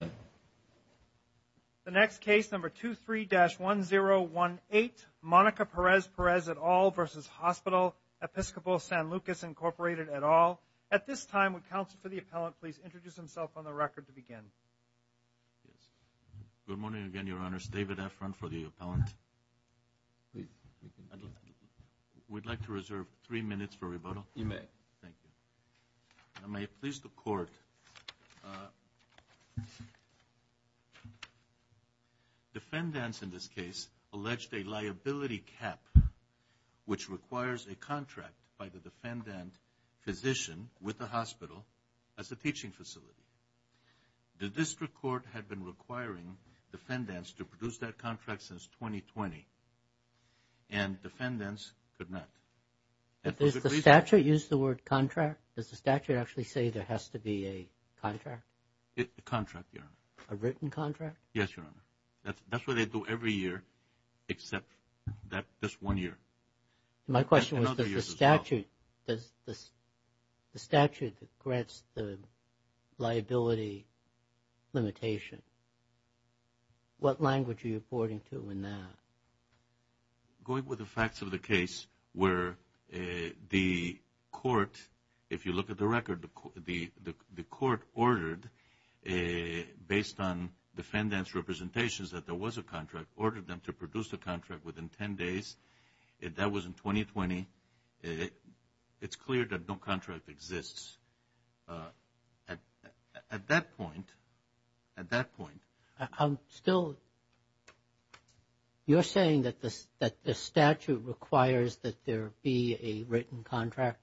The next case, number 23-1018, Monica Perez-Perez et al. v. Hospital Episcopal San Lucas Incorporated et al. At this time, would counsel for the appellant please introduce himself on the record to begin. Good morning again, Your Honors. David Efron for the appellant. We'd like to reserve three minutes for you. Defendants in this case alleged a liability cap which requires a contract by the defendant physician with the hospital as a teaching facility. The district court had been requiring defendants to produce that contract since 2020 and defendants could not. Does the statute use the word contract? Does a written contract? Yes, Your Honor. That's what they do every year except that this one year. My question was, does the statute, does the statute that grants the liability limitation, what language are you reporting to in that? Going with the facts of the case where the court, if you look at the record, the court ordered based on defendants representations that there was a contract, ordered them to produce the contract within 10 days. If that was in 2020, it's clear that no contract exists. At that point, at that point, I'm still you're saying that this that the statute requires that there be a written contract?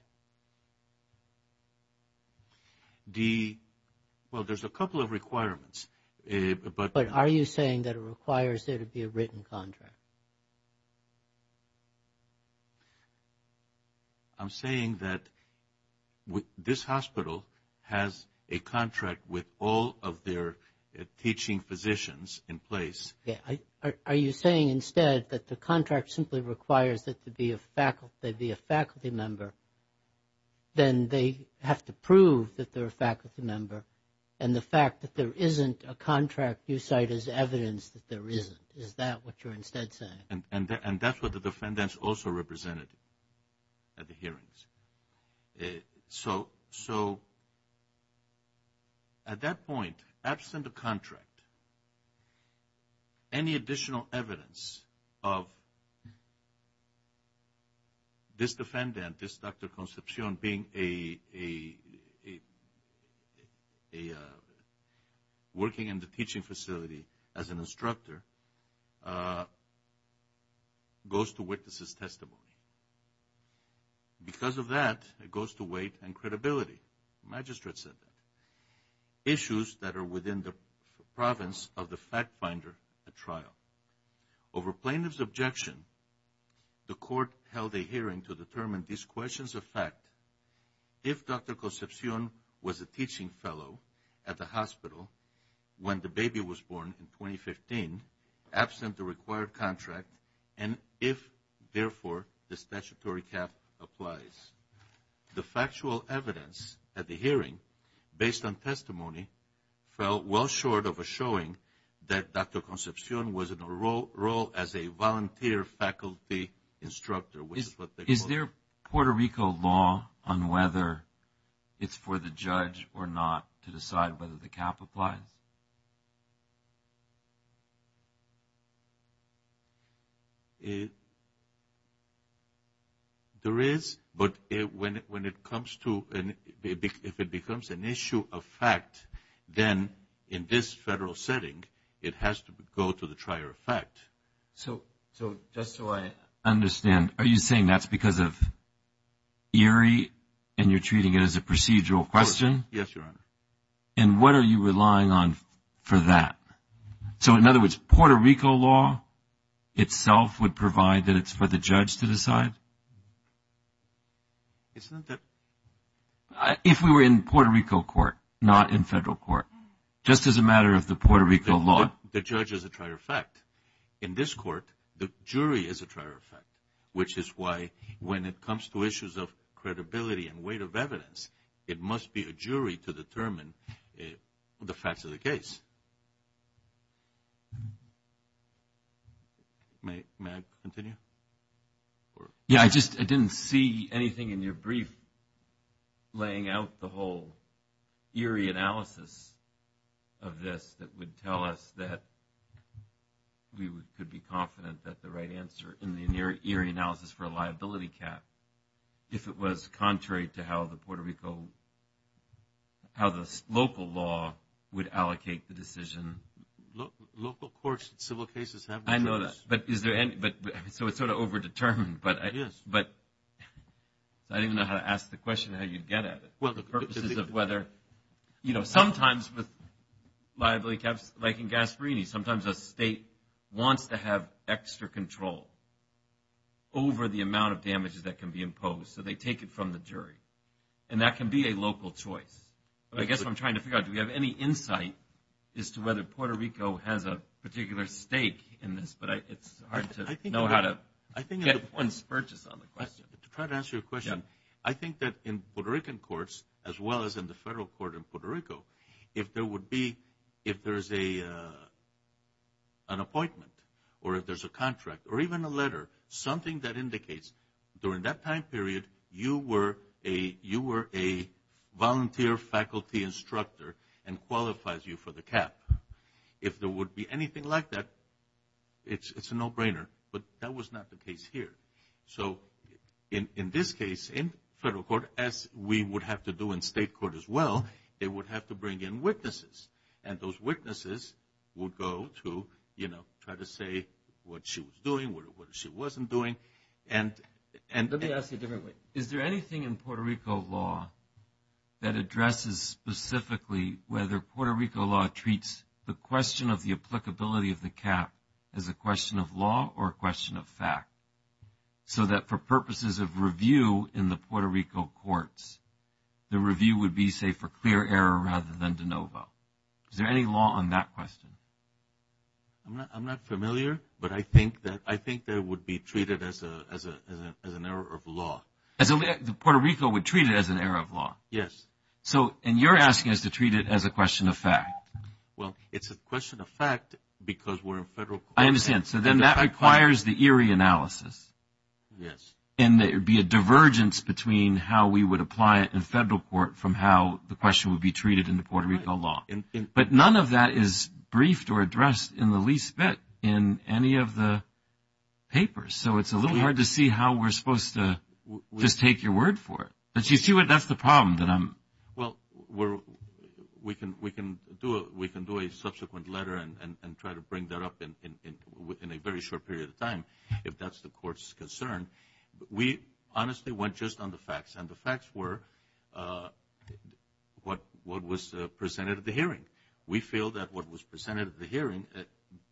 Well, there's a couple of requirements. But are you saying that it requires there to be a written contract? I'm saying that this hospital has a contract with all of their teaching physicians in place. Are you saying instead that the contract simply requires that there be a faculty member? Then they have to prove that they're a faculty member. And the fact that there isn't a contract you cite as evidence that there isn't, is that what you're instead saying? And that's what the defendants also represented at the hearings. So at that point, absent a contract, any defendant, this Dr. Concepcion being a working in the teaching facility as an instructor, goes to witness his testimony. Because of that, it goes to weight and credibility. Magistrate said that. Issues that are within the province of the fact-finder at trial. Over plaintiff's objection, the court held a hearing to determine these questions of fact. If Dr. Concepcion was a teaching fellow at the hospital when the baby was born in 2015, absent the required contract, and if therefore the statutory cap applies. The factual evidence at the hearing, based on testimony, fell well short of a showing that Dr. Concepcion was in a role as a volunteer faculty instructor. Is there Puerto Rico law on whether it's for the judge or not to decide whether the cap applies? There is, but when it comes to, if it becomes an issue of fact, then in this federal setting, it has to go to the trier of fact. So just so I understand, are you saying that's because of ERIE and you're treating it as a procedural question? Yes, Your Honor. And what are you relying on for that? So in other words, Puerto Rico law itself would provide that it's for the judge to decide? If we were in Puerto Rico court, not in this court, the judge is a trier of fact. In this court, the jury is a trier of fact, which is why when it comes to issues of credibility and weight of evidence, it must be a jury to determine the facts of the case. May I continue? Yeah, I just didn't see anything in your brief laying out the ERIE analysis of this that would tell us that we could be confident that the right answer in the ERIE analysis for a liability cap, if it was contrary to how the Puerto Rico, how the local law would allocate the decision. Local courts and civil cases have this. I know that, but is there any, but so it's sort of over-determined, but I didn't know how to ask the question how you'd get at it. Well, the purpose is of whether, you know, sometimes with liability caps, like in Gasparini, sometimes a state wants to have extra control over the amount of damages that can be imposed, so they take it from the jury. And that can be a local choice. I guess what I'm trying to figure out, do we have any insight as to whether Puerto Rico has a particular stake in this, but it's hard to know how to get one's purchase on the question. To try to answer your question, I think that in Puerto Rican courts, as well as in the federal court in Puerto Rico, if there would be, if there's a an appointment, or if there's a contract, or even a letter, something that indicates during that time period you were a, you were a volunteer faculty instructor and qualifies you for the cap. If there would be anything like that, it's a no-brainer, but that was not the case here. So in this case, in federal court, as we would have to do in state court as well, they would have to bring in witnesses, and those witnesses would go to, you know, try to say what she was doing, what she wasn't doing, and... Let me ask you a different way. Is there anything in Puerto Rico law that addresses specifically whether Puerto Rico law treats the question of the applicability of the cap as a question of law or a question of fact, so that for purposes of review in the Puerto Rico courts, the review would be, say, for clear error rather than de novo? Is there any law on that question? I'm not familiar, but I think that, I think that it would be treated as a, as a, as an error of law. As only, Puerto Rico would treat it as an error of law? Yes. So, and you're asking us to treat it as a question of fact? Well, it's a question of fact because we're in federal court. I understand. So then that requires the Erie analysis. Yes. And it would be a divergence between how we would apply it in federal court from how the question would be treated in the Puerto Rico law. But none of that is briefed or addressed in the least bit in any of the papers, so it's a little hard to see how we're supposed to just take your word for it. But you see what, that's the problem that I'm... Well, we're, we can, we can do, we can do a subsequent letter and try to bring that up in a very short period of time if that's the court's concern. We honestly went just on the facts, and the facts were what, what was presented at the hearing. We feel that what was presented at the hearing,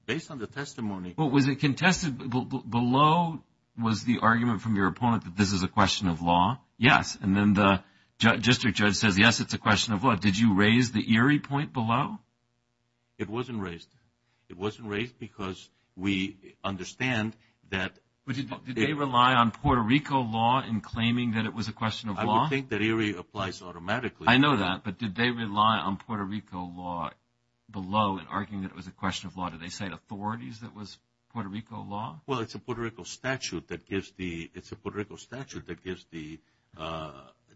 based on the testimony... Well, was it contested? Below was the argument from your opponent that this is a question of law? Yes. And then the district judge says, yes, it's a question of law. Did you raise the Erie point below? It did. Did they rely on Puerto Rico law in claiming that it was a question of law? I would think that Erie applies automatically. I know that, but did they rely on Puerto Rico law below in arguing that it was a question of law? Did they cite authorities that was Puerto Rico law? Well, it's a Puerto Rico statute that gives the, it's a Puerto Rico statute that gives the,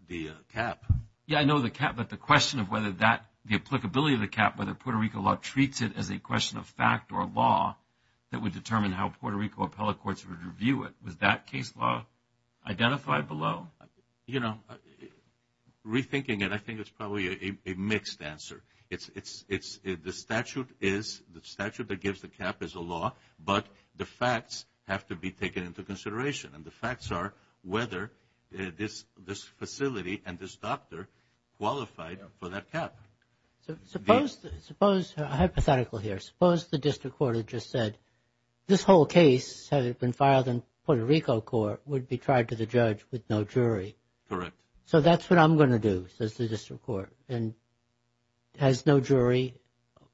the cap. Yeah, I know the cap, but the question of whether that, the applicability of the cap, whether Puerto Rico law treats it as a question of fact or law that would determine how Puerto Rico appellate courts would review it. Was that case law identified below? You know, rethinking it, I think it's probably a mixed answer. It's, it's, it's, the statute is, the statute that gives the cap is a law, but the facts have to be taken into consideration. And the facts are whether this, this facility and this doctor qualified for that cap. So, suppose, suppose, hypothetical here, suppose the case has been filed in Puerto Rico court, would be tried to the judge with no jury. Correct. So, that's what I'm going to do, says the district court, and has no jury,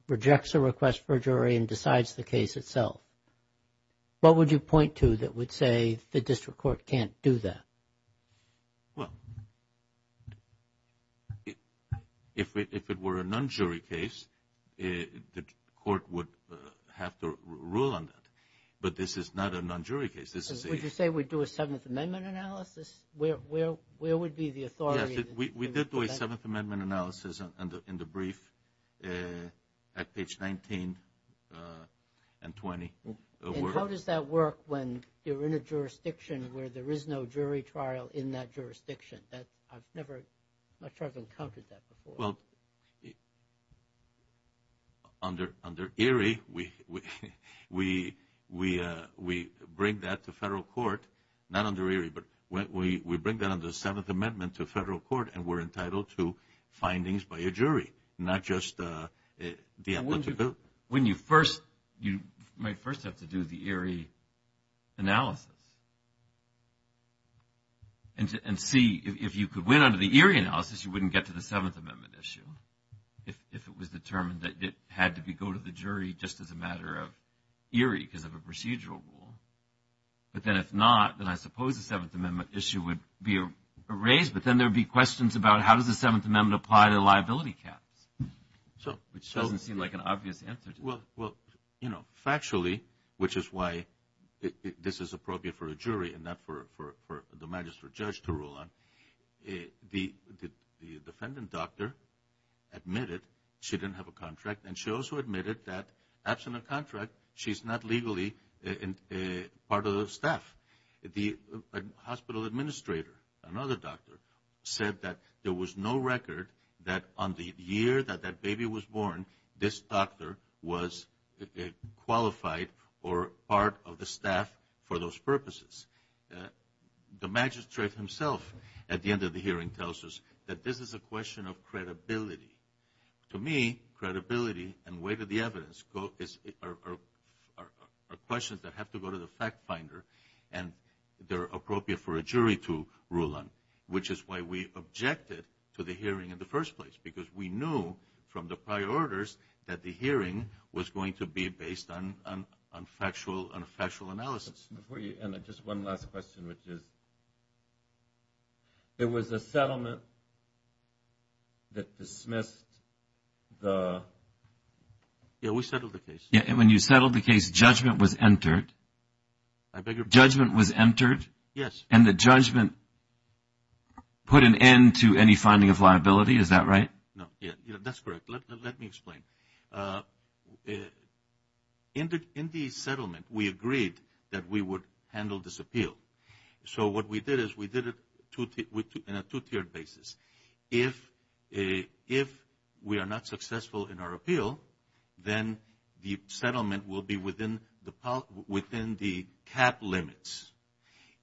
rejects a request for jury, and decides the case itself. What would you point to that would say the district court can't do that? Well, if it were a non-jury case, the court would have to rule on that. But this is not a non-jury case. Would you say we'd do a Seventh Amendment analysis? Where, where, where would be the authority? We did do a Seventh Amendment analysis in the brief at page 19 and 20. How does that work when you're in a jurisdiction where there is no jury trial in that case? Under, under ERIE, we, we, we, we bring that to federal court, not under ERIE, but when we, we bring that under the Seventh Amendment to federal court, and we're entitled to findings by a jury, not just the applicant. When you first, you might first have to do the ERIE analysis, and see if you could win under the ERIE analysis, you wouldn't get to the Seventh Amendment issue, if it was determined that it had to be go to the jury, just as a matter of ERIE, because of a procedural rule. But then, if not, then I suppose the Seventh Amendment issue would be raised, but then there would be questions about how does the Seventh Amendment apply to liability caps? So, which doesn't seem like an obvious answer. Well, well, you know, factually, which is why this is appropriate for a jury, and not for, for, for the magistrate judge to rule on, the, the have a contract, and she also admitted that, absent a contract, she's not legally a part of the staff. The hospital administrator, another doctor, said that there was no record that on the year that that baby was born, this doctor was qualified, or part of the staff for those purposes. The magistrate himself, at the end of the hearing, tells us that this is a question of credibility. To me, credibility and weight of the evidence go, is, are questions that have to go to the fact finder, and they're appropriate for a jury to rule on, which is why we objected to the hearing in the first place, because we knew, from the prior orders, that the hearing was going to be based on, on factual, on factual analysis. Before you end, just one last question, which is, there was a settlement that dismissed the, yeah, we settled the case. Yeah, and when you settled the case, judgment was entered. I beg your pardon? Judgment was entered? Yes. And the judgment put an end to any finding of liability, is that right? No, yeah, yeah, that's correct. Let, let, let me explain. In the, in the settlement, we agreed that we would handle this appeal. So, what we did is, we did it two, in a two-tiered basis. If, if we are not successful in our appeal, then the settlement will be within the, within the cap limits.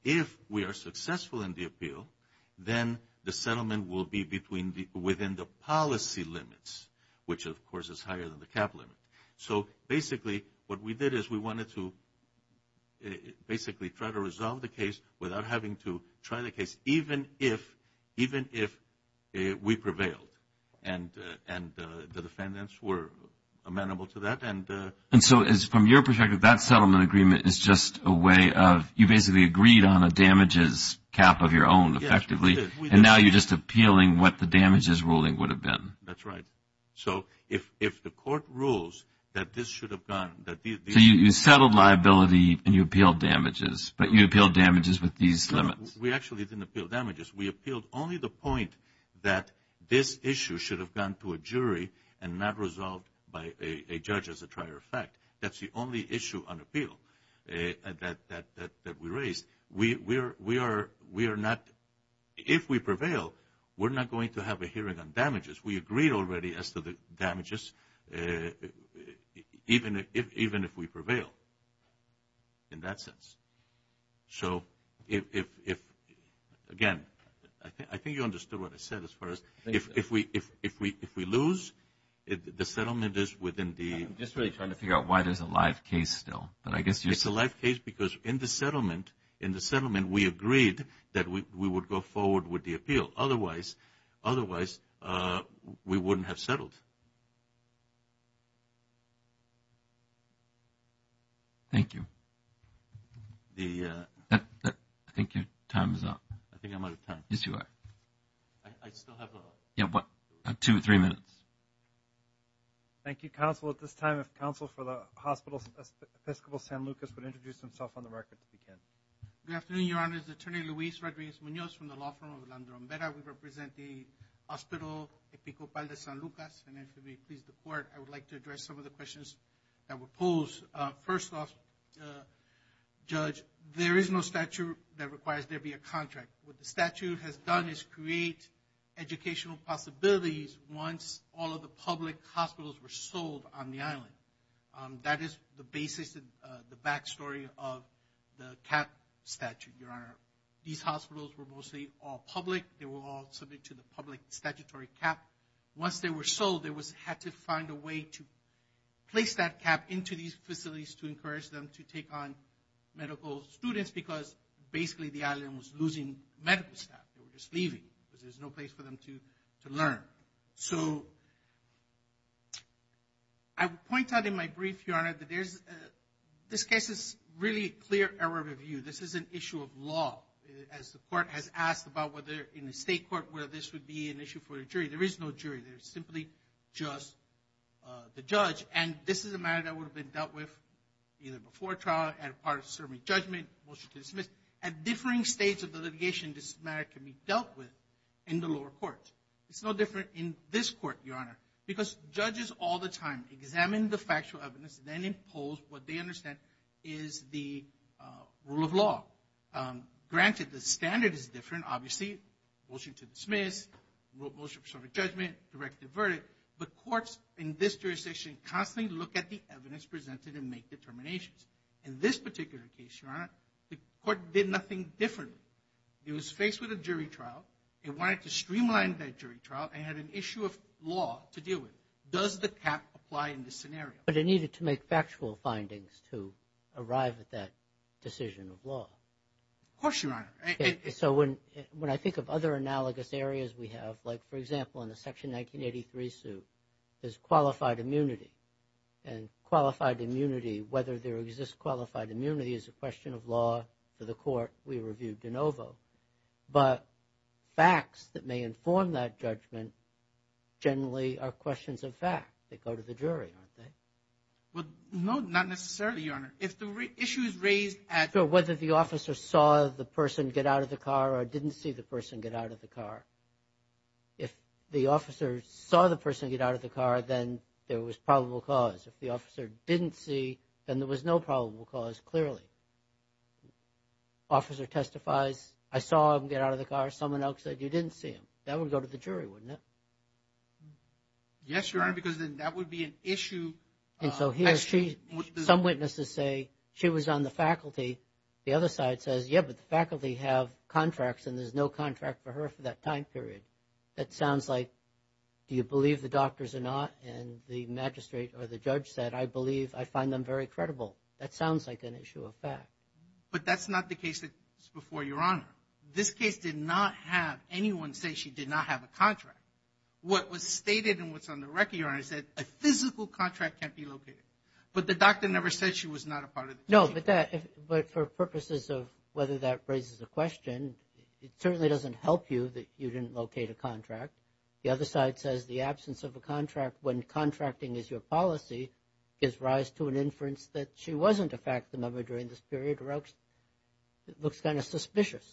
If we are successful in the appeal, then the settlement will be between the, within the policy limits, which of course is higher than the cap limit. So, basically, what we did is, we wanted to, basically, try to resolve the case without having to try the case, even if, even if we prevailed. And, and the defendants were amenable to that, and. And so, as from your perspective, that settlement agreement is just a way of, you basically agreed on a damages cap of your own, effectively. Yes, we did. And now, you're just appealing what the damages ruling would have been. That's right. So, if, if the court rules that this should have gone, that these. So, you, you settled liability, and you appealed damages, but you appealed damages with these limits. We actually didn't appeal damages. We appealed only the point that this issue should have gone to a jury, and not resolved by a, a judge as a prior effect. That's the only issue on appeal that, that, that, that we raised. We, we're, we are, we are not, if we prevail, we're not going to have a hearing on damages. We are not going to have a hearing on damages. In that sense. So, if, if, if, again, I think, I think you understood what I said as far as, if, if we, if, if we, if we lose, the settlement is within the. I'm just really trying to figure out why there's a live case still. But I guess you. It's a live case because in the settlement, in the settlement, we agreed that we, we would go forward with the Thank you. The, that, that, I think your time is up. I think I'm out of time. Yes, you are. I, I still have a. Yeah, what, two or three minutes. Thank you, counsel. At this time, if counsel for the Hospital Episcopal San Lucas would introduce himself on the record, if he can. Good afternoon, Your Honor. It's Attorney Luis Rodriguez Munoz from the law firm of Orlando Romero. We represent the Hospital Episcopal de San Lucas, and if it would please the court, I would like to address some of the questions that were posed. First off, Judge, there is no statute that requires there be a contract. What the statute has done is create educational possibilities once all of the public hospitals were sold on the island. That is the basis, the backstory of the cap statute, Your Honor. These hospitals were mostly all public. They were all subject to the public statutory cap. Once they were sold, there was, had to find a way to place that cap into these facilities to encourage them to take on medical students, because basically the island was losing medical staff. They were just leaving, because there's no place for them to, to learn. So, I would point out in my brief, Your Honor, that there's, this case is really clear error of review. This is an issue of law, as the court has asked about whether in the state court, whether this would be an issue for the jury. There is no jury. There's simply just the judge, and this is a matter that would have been dealt with either before trial, as part of serving judgment, motion to dismiss. At differing states of the litigation, this matter can be dealt with in the lower court. It's no different in this court, Your Honor, because judges all the time examine the factual evidence, then impose what they understand is the rule of law. Granted, the standard is different, obviously, motion to dismiss, motion to serve judgment, direct the verdict, but courts in this jurisdiction constantly look at the evidence presented and make determinations. In this particular case, Your Honor, the court did nothing different. It was faced with a jury trial. It wanted to streamline that jury trial and had an issue of law to deal with. Does the cap apply in this scenario? But it needed to make factual findings to arrive at that decision of law. Of course, Your Honor. So when I think of other analogous areas we have, like, for example, in the Section 1983 suit, there's qualified immunity. And qualified immunity, whether there exists qualified immunity, is a question of law for the court. We reviewed de novo. But facts that may inform that judgment generally are questions of fact that go to the jury, aren't they? Well, no, not necessarily, Your Honor. If the issue is raised at... So whether the officer saw the person get out of the car or didn't see the person get out of the car. If the officer saw the person get out of the car, then there was probable cause. If the officer didn't see, then there was no probable cause, clearly. Officer testifies, I saw him get out of the car. Someone else said you didn't see him. That would go to the jury, wouldn't it? Yes, Your Honor, because then that would be an issue. And so here, some witnesses say she was on the faculty. The other side says, yeah, but the faculty have contracts and there's no contract for her for that time period. That sounds like, do you believe the doctors or not? And the magistrate or the judge said, I believe, I find them very credible. That sounds like an issue of fact. But that's not the case that's before Your Honor. This case did not have anyone say she did not have a contract. What was stated and what's on the record, Your Honor, is that a physical contract can't be located. But the doctor never said she was not a part of the... No, but that, but for purposes of whether that raises a question, it certainly doesn't help you that you didn't locate a contract. The other side says the absence of a contract when contracting is your policy gives rise to an inference that she wasn't a faculty member during this period or else it looks kind of suspicious.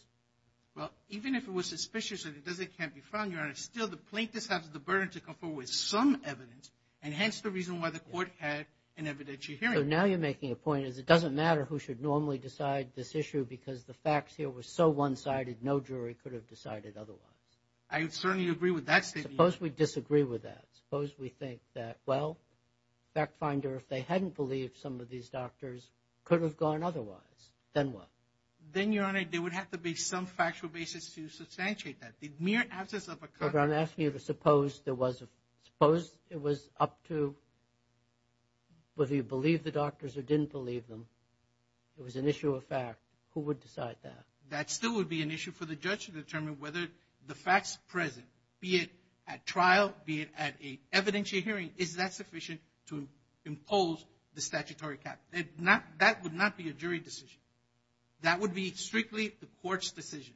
Well, even if it was suspicious and it doesn't can't be found, Your Honor, still the plaintiff has the burden to come forward with some evidence and hence the reason why the court had an evidentiary hearing. So now you're making a point is it doesn't matter who should normally decide this issue because the facts here were so one-sided, no jury could have decided otherwise. I certainly agree with that statement. Suppose we disagree with that. Suppose we think that, well, fact finder, if they hadn't believed some of these doctors could have gone otherwise, then what? Then, Your Honor, there would have to be some factual basis to substantiate that. The mere absence of a contract... Your Honor, I'm asking you to suppose there was a, suppose it was up to whether you believed the doctors or didn't believe them, it was an issue of fact, who would decide that? That still would be an issue for the judge to determine whether the facts present, be it at trial, be it at an evidentiary hearing, is that sufficient to impose the statutory cap. That would not be a jury decision. That would be strictly the court's decision,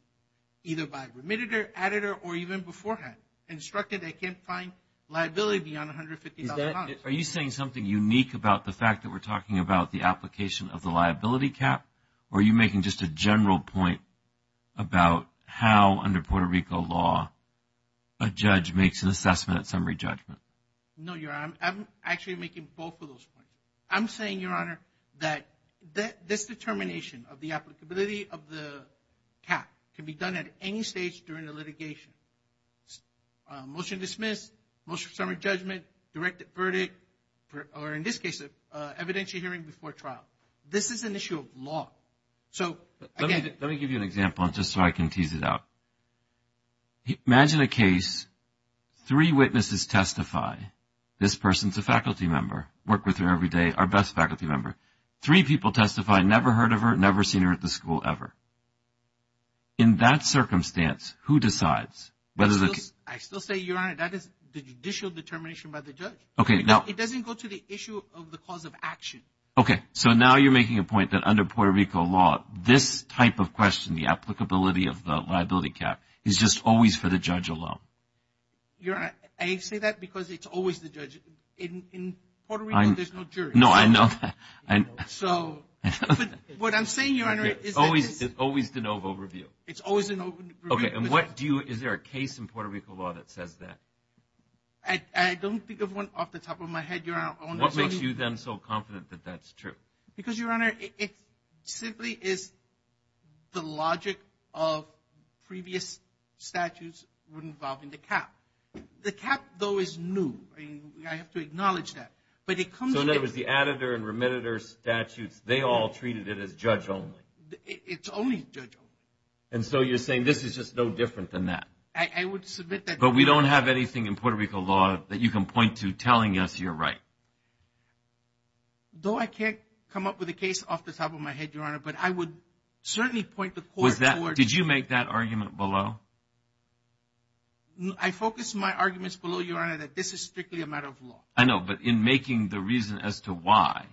either by remitter, editor, or even beforehand, instructed they can't find liability on $150,000. Are you saying something unique about the fact that we're talking about the application of the liability cap or are you making just a general point about how under Puerto Rico law a judge makes an assessment at summary judgment? No, Your Honor, I'm actually making both of those points. I'm saying, Your Honor, that this determination of the applicability of the cap can be done at any stage during the litigation. Motion to dismiss, motion for summary judgment, direct verdict, or in this case, evidentiary hearing before trial. This is an issue of law. Let me give you an example just so I can tease it out. Imagine a case, three witnesses testify. This person's a faculty member, worked with her every day, our best faculty member. Three people testify, never heard of her, never seen her at the school, ever. In that circumstance, who decides? I still say, Your Honor, that is the judicial determination by the judge. It doesn't go to the issue of the cause of action. Okay, so now you're making a point that under Puerto Rico law, this type of question, the applicability of the liability cap, is just always for the judge alone. Your Honor, I say that because it's always the judge. In Puerto Rico, there's no jury. No, I know that. So, what I'm saying, Your Honor, is that it's always de novo review. It's always de novo review. Okay, and what do you, is there a case in Puerto Rico law that says that? What makes you then so confident that that's true? Because, Your Honor, it simply is the logic of previous statutes involving the cap. The cap, though, is new. I mean, I have to acknowledge that. So, there was the additor and remittitor statutes. They all treated it as judge only. It's only judge only. And so you're saying this is just no different than that. I would submit that. But we don't have anything in Puerto Rico law that you can point to telling us you're right. Though I can't come up with a case off the top of my head, Your Honor, but I would certainly point the court towards. Did you make that argument below? I focus my arguments below, Your Honor, that this is strictly a matter of law. I know, but in making the reason as to why,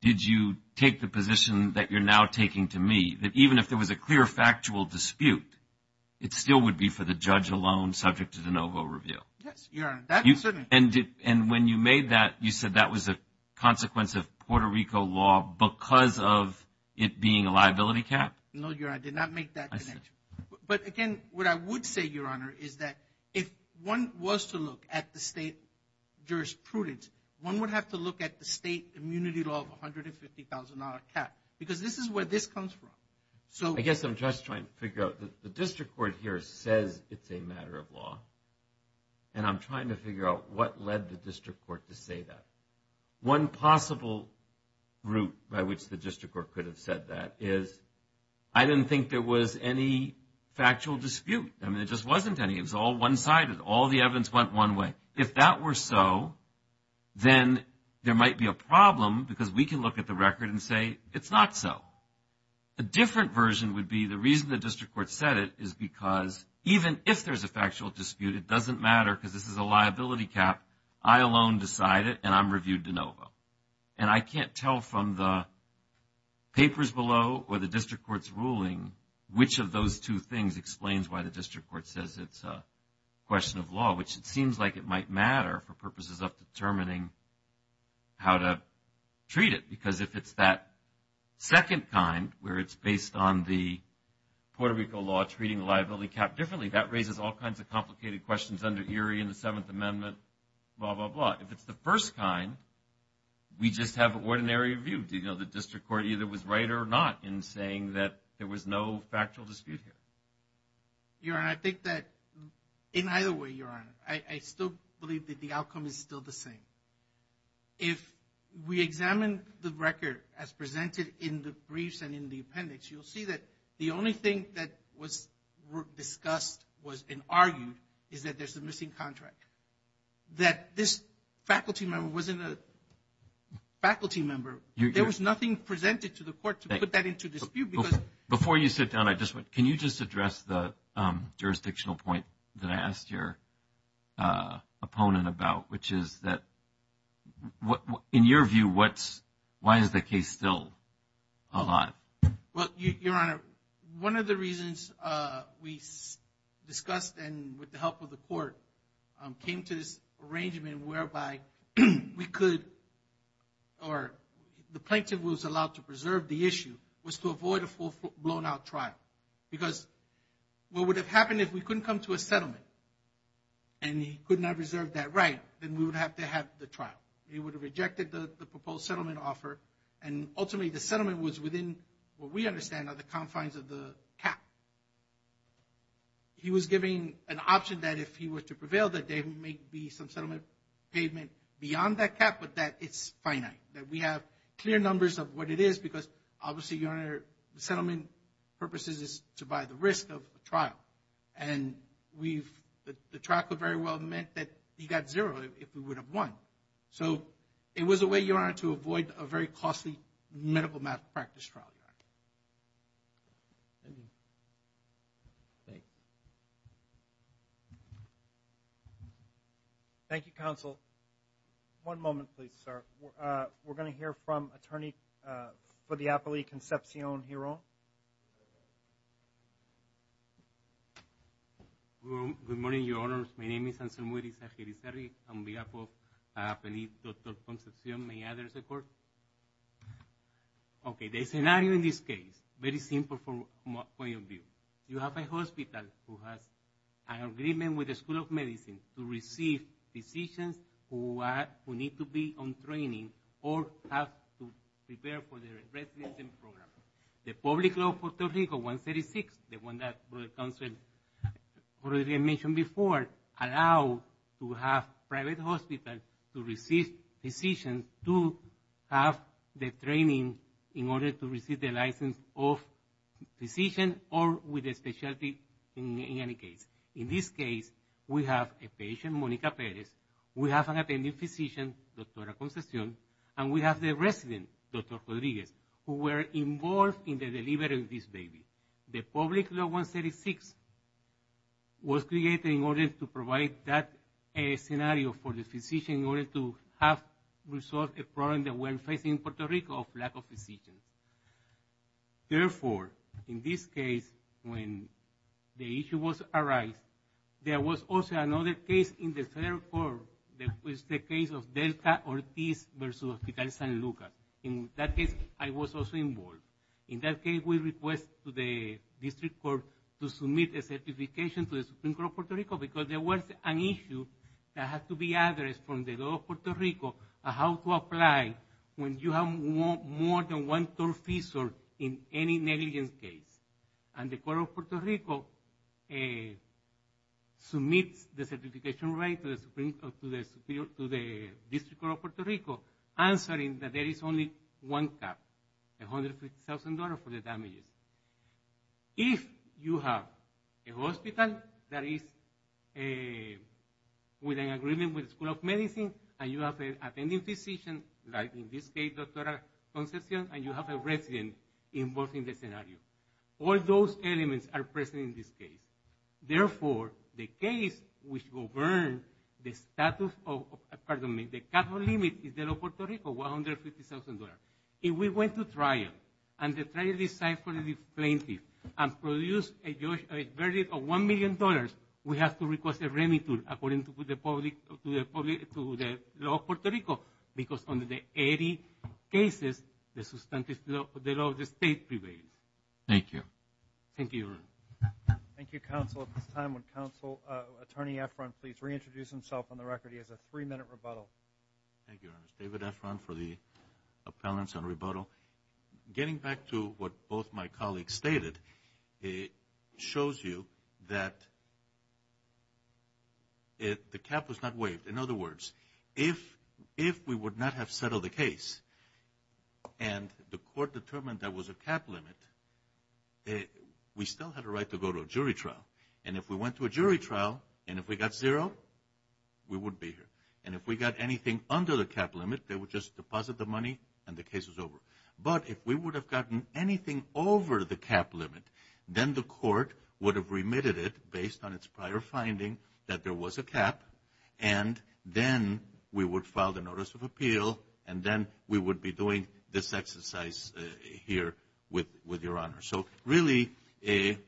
did you take the position that you're now taking to me, that even if there was a clear factual dispute, it still would be for the judge alone subject to de novo review? Yes, Your Honor. And when you made that, you said that was a consequence of Puerto Rico law because of it being a liability cap? No, Your Honor. I did not make that connection. But, again, what I would say, Your Honor, is that if one was to look at the state jurisprudence, one would have to look at the state immunity law of $150,000 cap because this is where this comes from. I guess I'm just trying to figure out. The district court here says it's a matter of law, and I'm trying to figure out what led the district court to say that. One possible route by which the district court could have said that is I didn't think there was any factual dispute. I mean, there just wasn't any. It was all one-sided. All the evidence went one way. If that were so, then there might be a problem because we can look at the record and say it's not so. A different version would be the reason the district court said it is because even if there's a factual dispute, it doesn't matter because this is a liability cap. I alone decide it, and I'm reviewed de novo. And I can't tell from the papers below or the district court's ruling which of those two things explains why the district court says it's a question of law, which it seems like it might matter for purposes of determining how to treat it. Because if it's that second kind where it's based on the Puerto Rico law treating the liability cap differently, that raises all kinds of complicated questions under Erie and the Seventh Amendment, blah, blah, blah. If it's the first kind, we just have an ordinary review. The district court either was right or not in saying that there was no factual dispute here. Your Honor, I think that in either way, Your Honor, I still believe that the outcome is still the same. If we examine the record as presented in the briefs and in the appendix, you'll see that the only thing that was discussed and argued is that there's a missing contract, that this faculty member wasn't a faculty member. There was nothing presented to the court to put that into dispute. Before you sit down, can you just address the jurisdictional point that I asked your opponent about, which is that in your view, why is the case still a lot? Well, Your Honor, one of the reasons we discussed and with the help of the court came to this arrangement whereby we could, or the plaintiff was allowed to preserve the issue, was to avoid a full blown out trial. Because what would have happened if we couldn't come to a settlement, and he could not reserve that right, then we would have to have the trial. He would have rejected the proposed settlement offer, and ultimately the settlement was within what we understand are the confines of the cap. He was giving an option that if he were to prevail, that there may be some settlement payment beyond that cap, but that it's finite. That we have clear numbers of what it is, because obviously, Your Honor, the settlement purpose is to buy the risk of a trial. And the trial could very well have meant that he got zero if we would have won. So it was a way, Your Honor, to avoid a very costly medical malpractice trial. Thank you. Thank you, counsel. One moment, please, sir. We're going to hear from attorney for the appellee, Concepcion Hiron. Good morning, Your Honors. My name is Anselmo Irizagirizari. I'm the appellee, Dr. Concepcion. May I have your support? Okay. The scenario in this case, very simple from my point of view. You have a hospital who has an agreement with the School of Medicine to receive physicians who need to be on training or have to prepare for their residency program. The public law, Puerto Rico, 136, the one that the counsel already mentioned before, allows to have private hospitals to receive physicians and to have the training in order to receive the license of physician or with a specialty in any case. In this case, we have a patient, Monica Perez. We have an attending physician, Dr. Concepcion, and we have the resident, Dr. Rodriguez, who were involved in the delivery of this baby. The public law 136 was created in order to provide that scenario for the physician in order to have resolved a problem that we're facing in Puerto Rico of lack of physicians. Therefore, in this case, when the issue was arised, there was also another case in the federal court that was the case of Delta Ortiz versus Hospital San Luca. In that case, I was also involved. In that case, we request to the district court to submit a certification to the Supreme Court of Puerto Rico because there was an issue that had to be addressed from the law of Puerto Rico on how to apply when you have more than one-third physician in any negligence case. And the court of Puerto Rico submits the certification right to the district court of Puerto Rico answering that there is only one cap, $150,000 for the damages. If you have a hospital that is with an agreement with the School of Medicine and you have an attending physician, like in this case, Dr. Concepcion, and you have a resident involved in the scenario. All those elements are present in this case. Therefore, the case which governs the status of, pardon me, the capital limit in the law of Puerto Rico, $150,000. If we went to trial and the trial decided for the plaintiff and produced a verdict of $1 million, we have to request a remittance according to the law of Puerto Rico because under the 80 cases, the law of the state prevails. Thank you. Thank you, Your Honor. Thank you, Counsel. At this time, would Counsel, Attorney Efron, please reintroduce himself on the record. He has a three-minute rebuttal. Thank you, Your Honor. David Efron for the appellants on rebuttal. Getting back to what both my colleagues stated, it shows you that the cap was not waived. In other words, if we would not have settled the case and the court determined there was a cap limit, we still had a right to go to a jury trial. And if we went to a jury trial and if we got zero, we would be here. And if we got anything under the cap limit, they would just deposit the money and the case was over. But if we would have gotten anything over the cap limit, then the court would have remitted it based on its prior finding that there was a cap, and then we would file the notice of appeal, and then we would be doing this exercise here with Your Honor. So really, we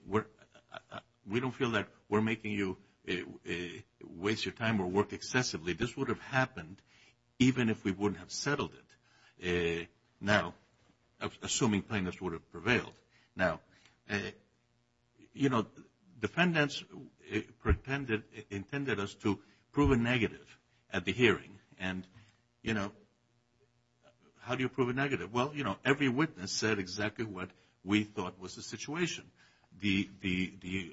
don't feel that we're making you waste your time or work excessively. This would have happened even if we wouldn't have settled it. Now, assuming plaintiffs would have prevailed. Now, you know, defendants pretended, intended us to prove a negative at the hearing. And, you know, how do you prove a negative? Well, you know, every witness said exactly what we thought was the situation. The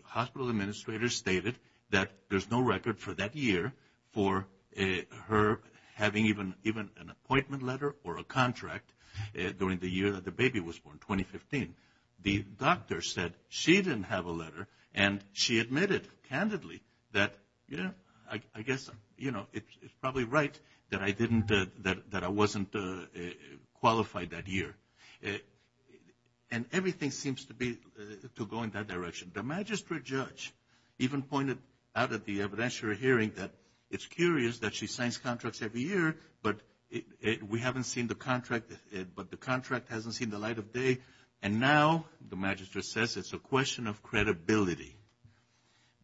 hospital administrator stated that there's no record for that year for her having even an appointment letter or a contract during the year that the baby was born, 2015. The doctor said she didn't have a letter, and she admitted candidly that, you know, I guess, you know, it's probably right that I wasn't qualified that year. And everything seems to go in that direction. The magistrate judge even pointed out at the evidentiary hearing that it's curious that she signs contracts every year, but we haven't seen the contract, but the contract hasn't seen the light of day. And now, the magistrate says it's a question of credibility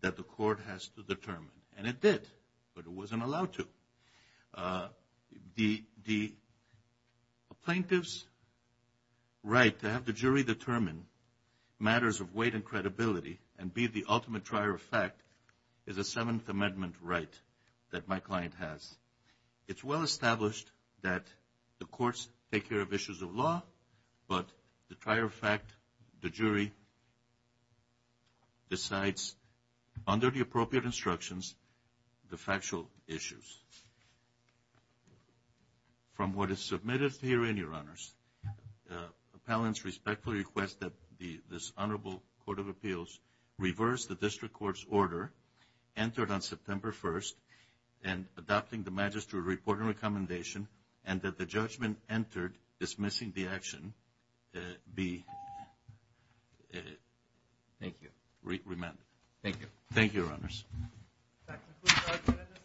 that the court has to determine. And it did, but it wasn't allowed to. The plaintiff's right to have the jury determine matters of weight and credibility and be the ultimate trier of fact is a Seventh Amendment right that my client has. It's well established that the courts take care of issues of law, but the trier of fact, the jury, decides under the appropriate instructions the factual issues. From what is submitted herein, Your Honors, appellants respectfully request that this honorable court of appeals reverse the district court's order entered on September 1st and adopting the magistrate report and recommendation and that the judgment entered dismissing the action be remanded. Thank you.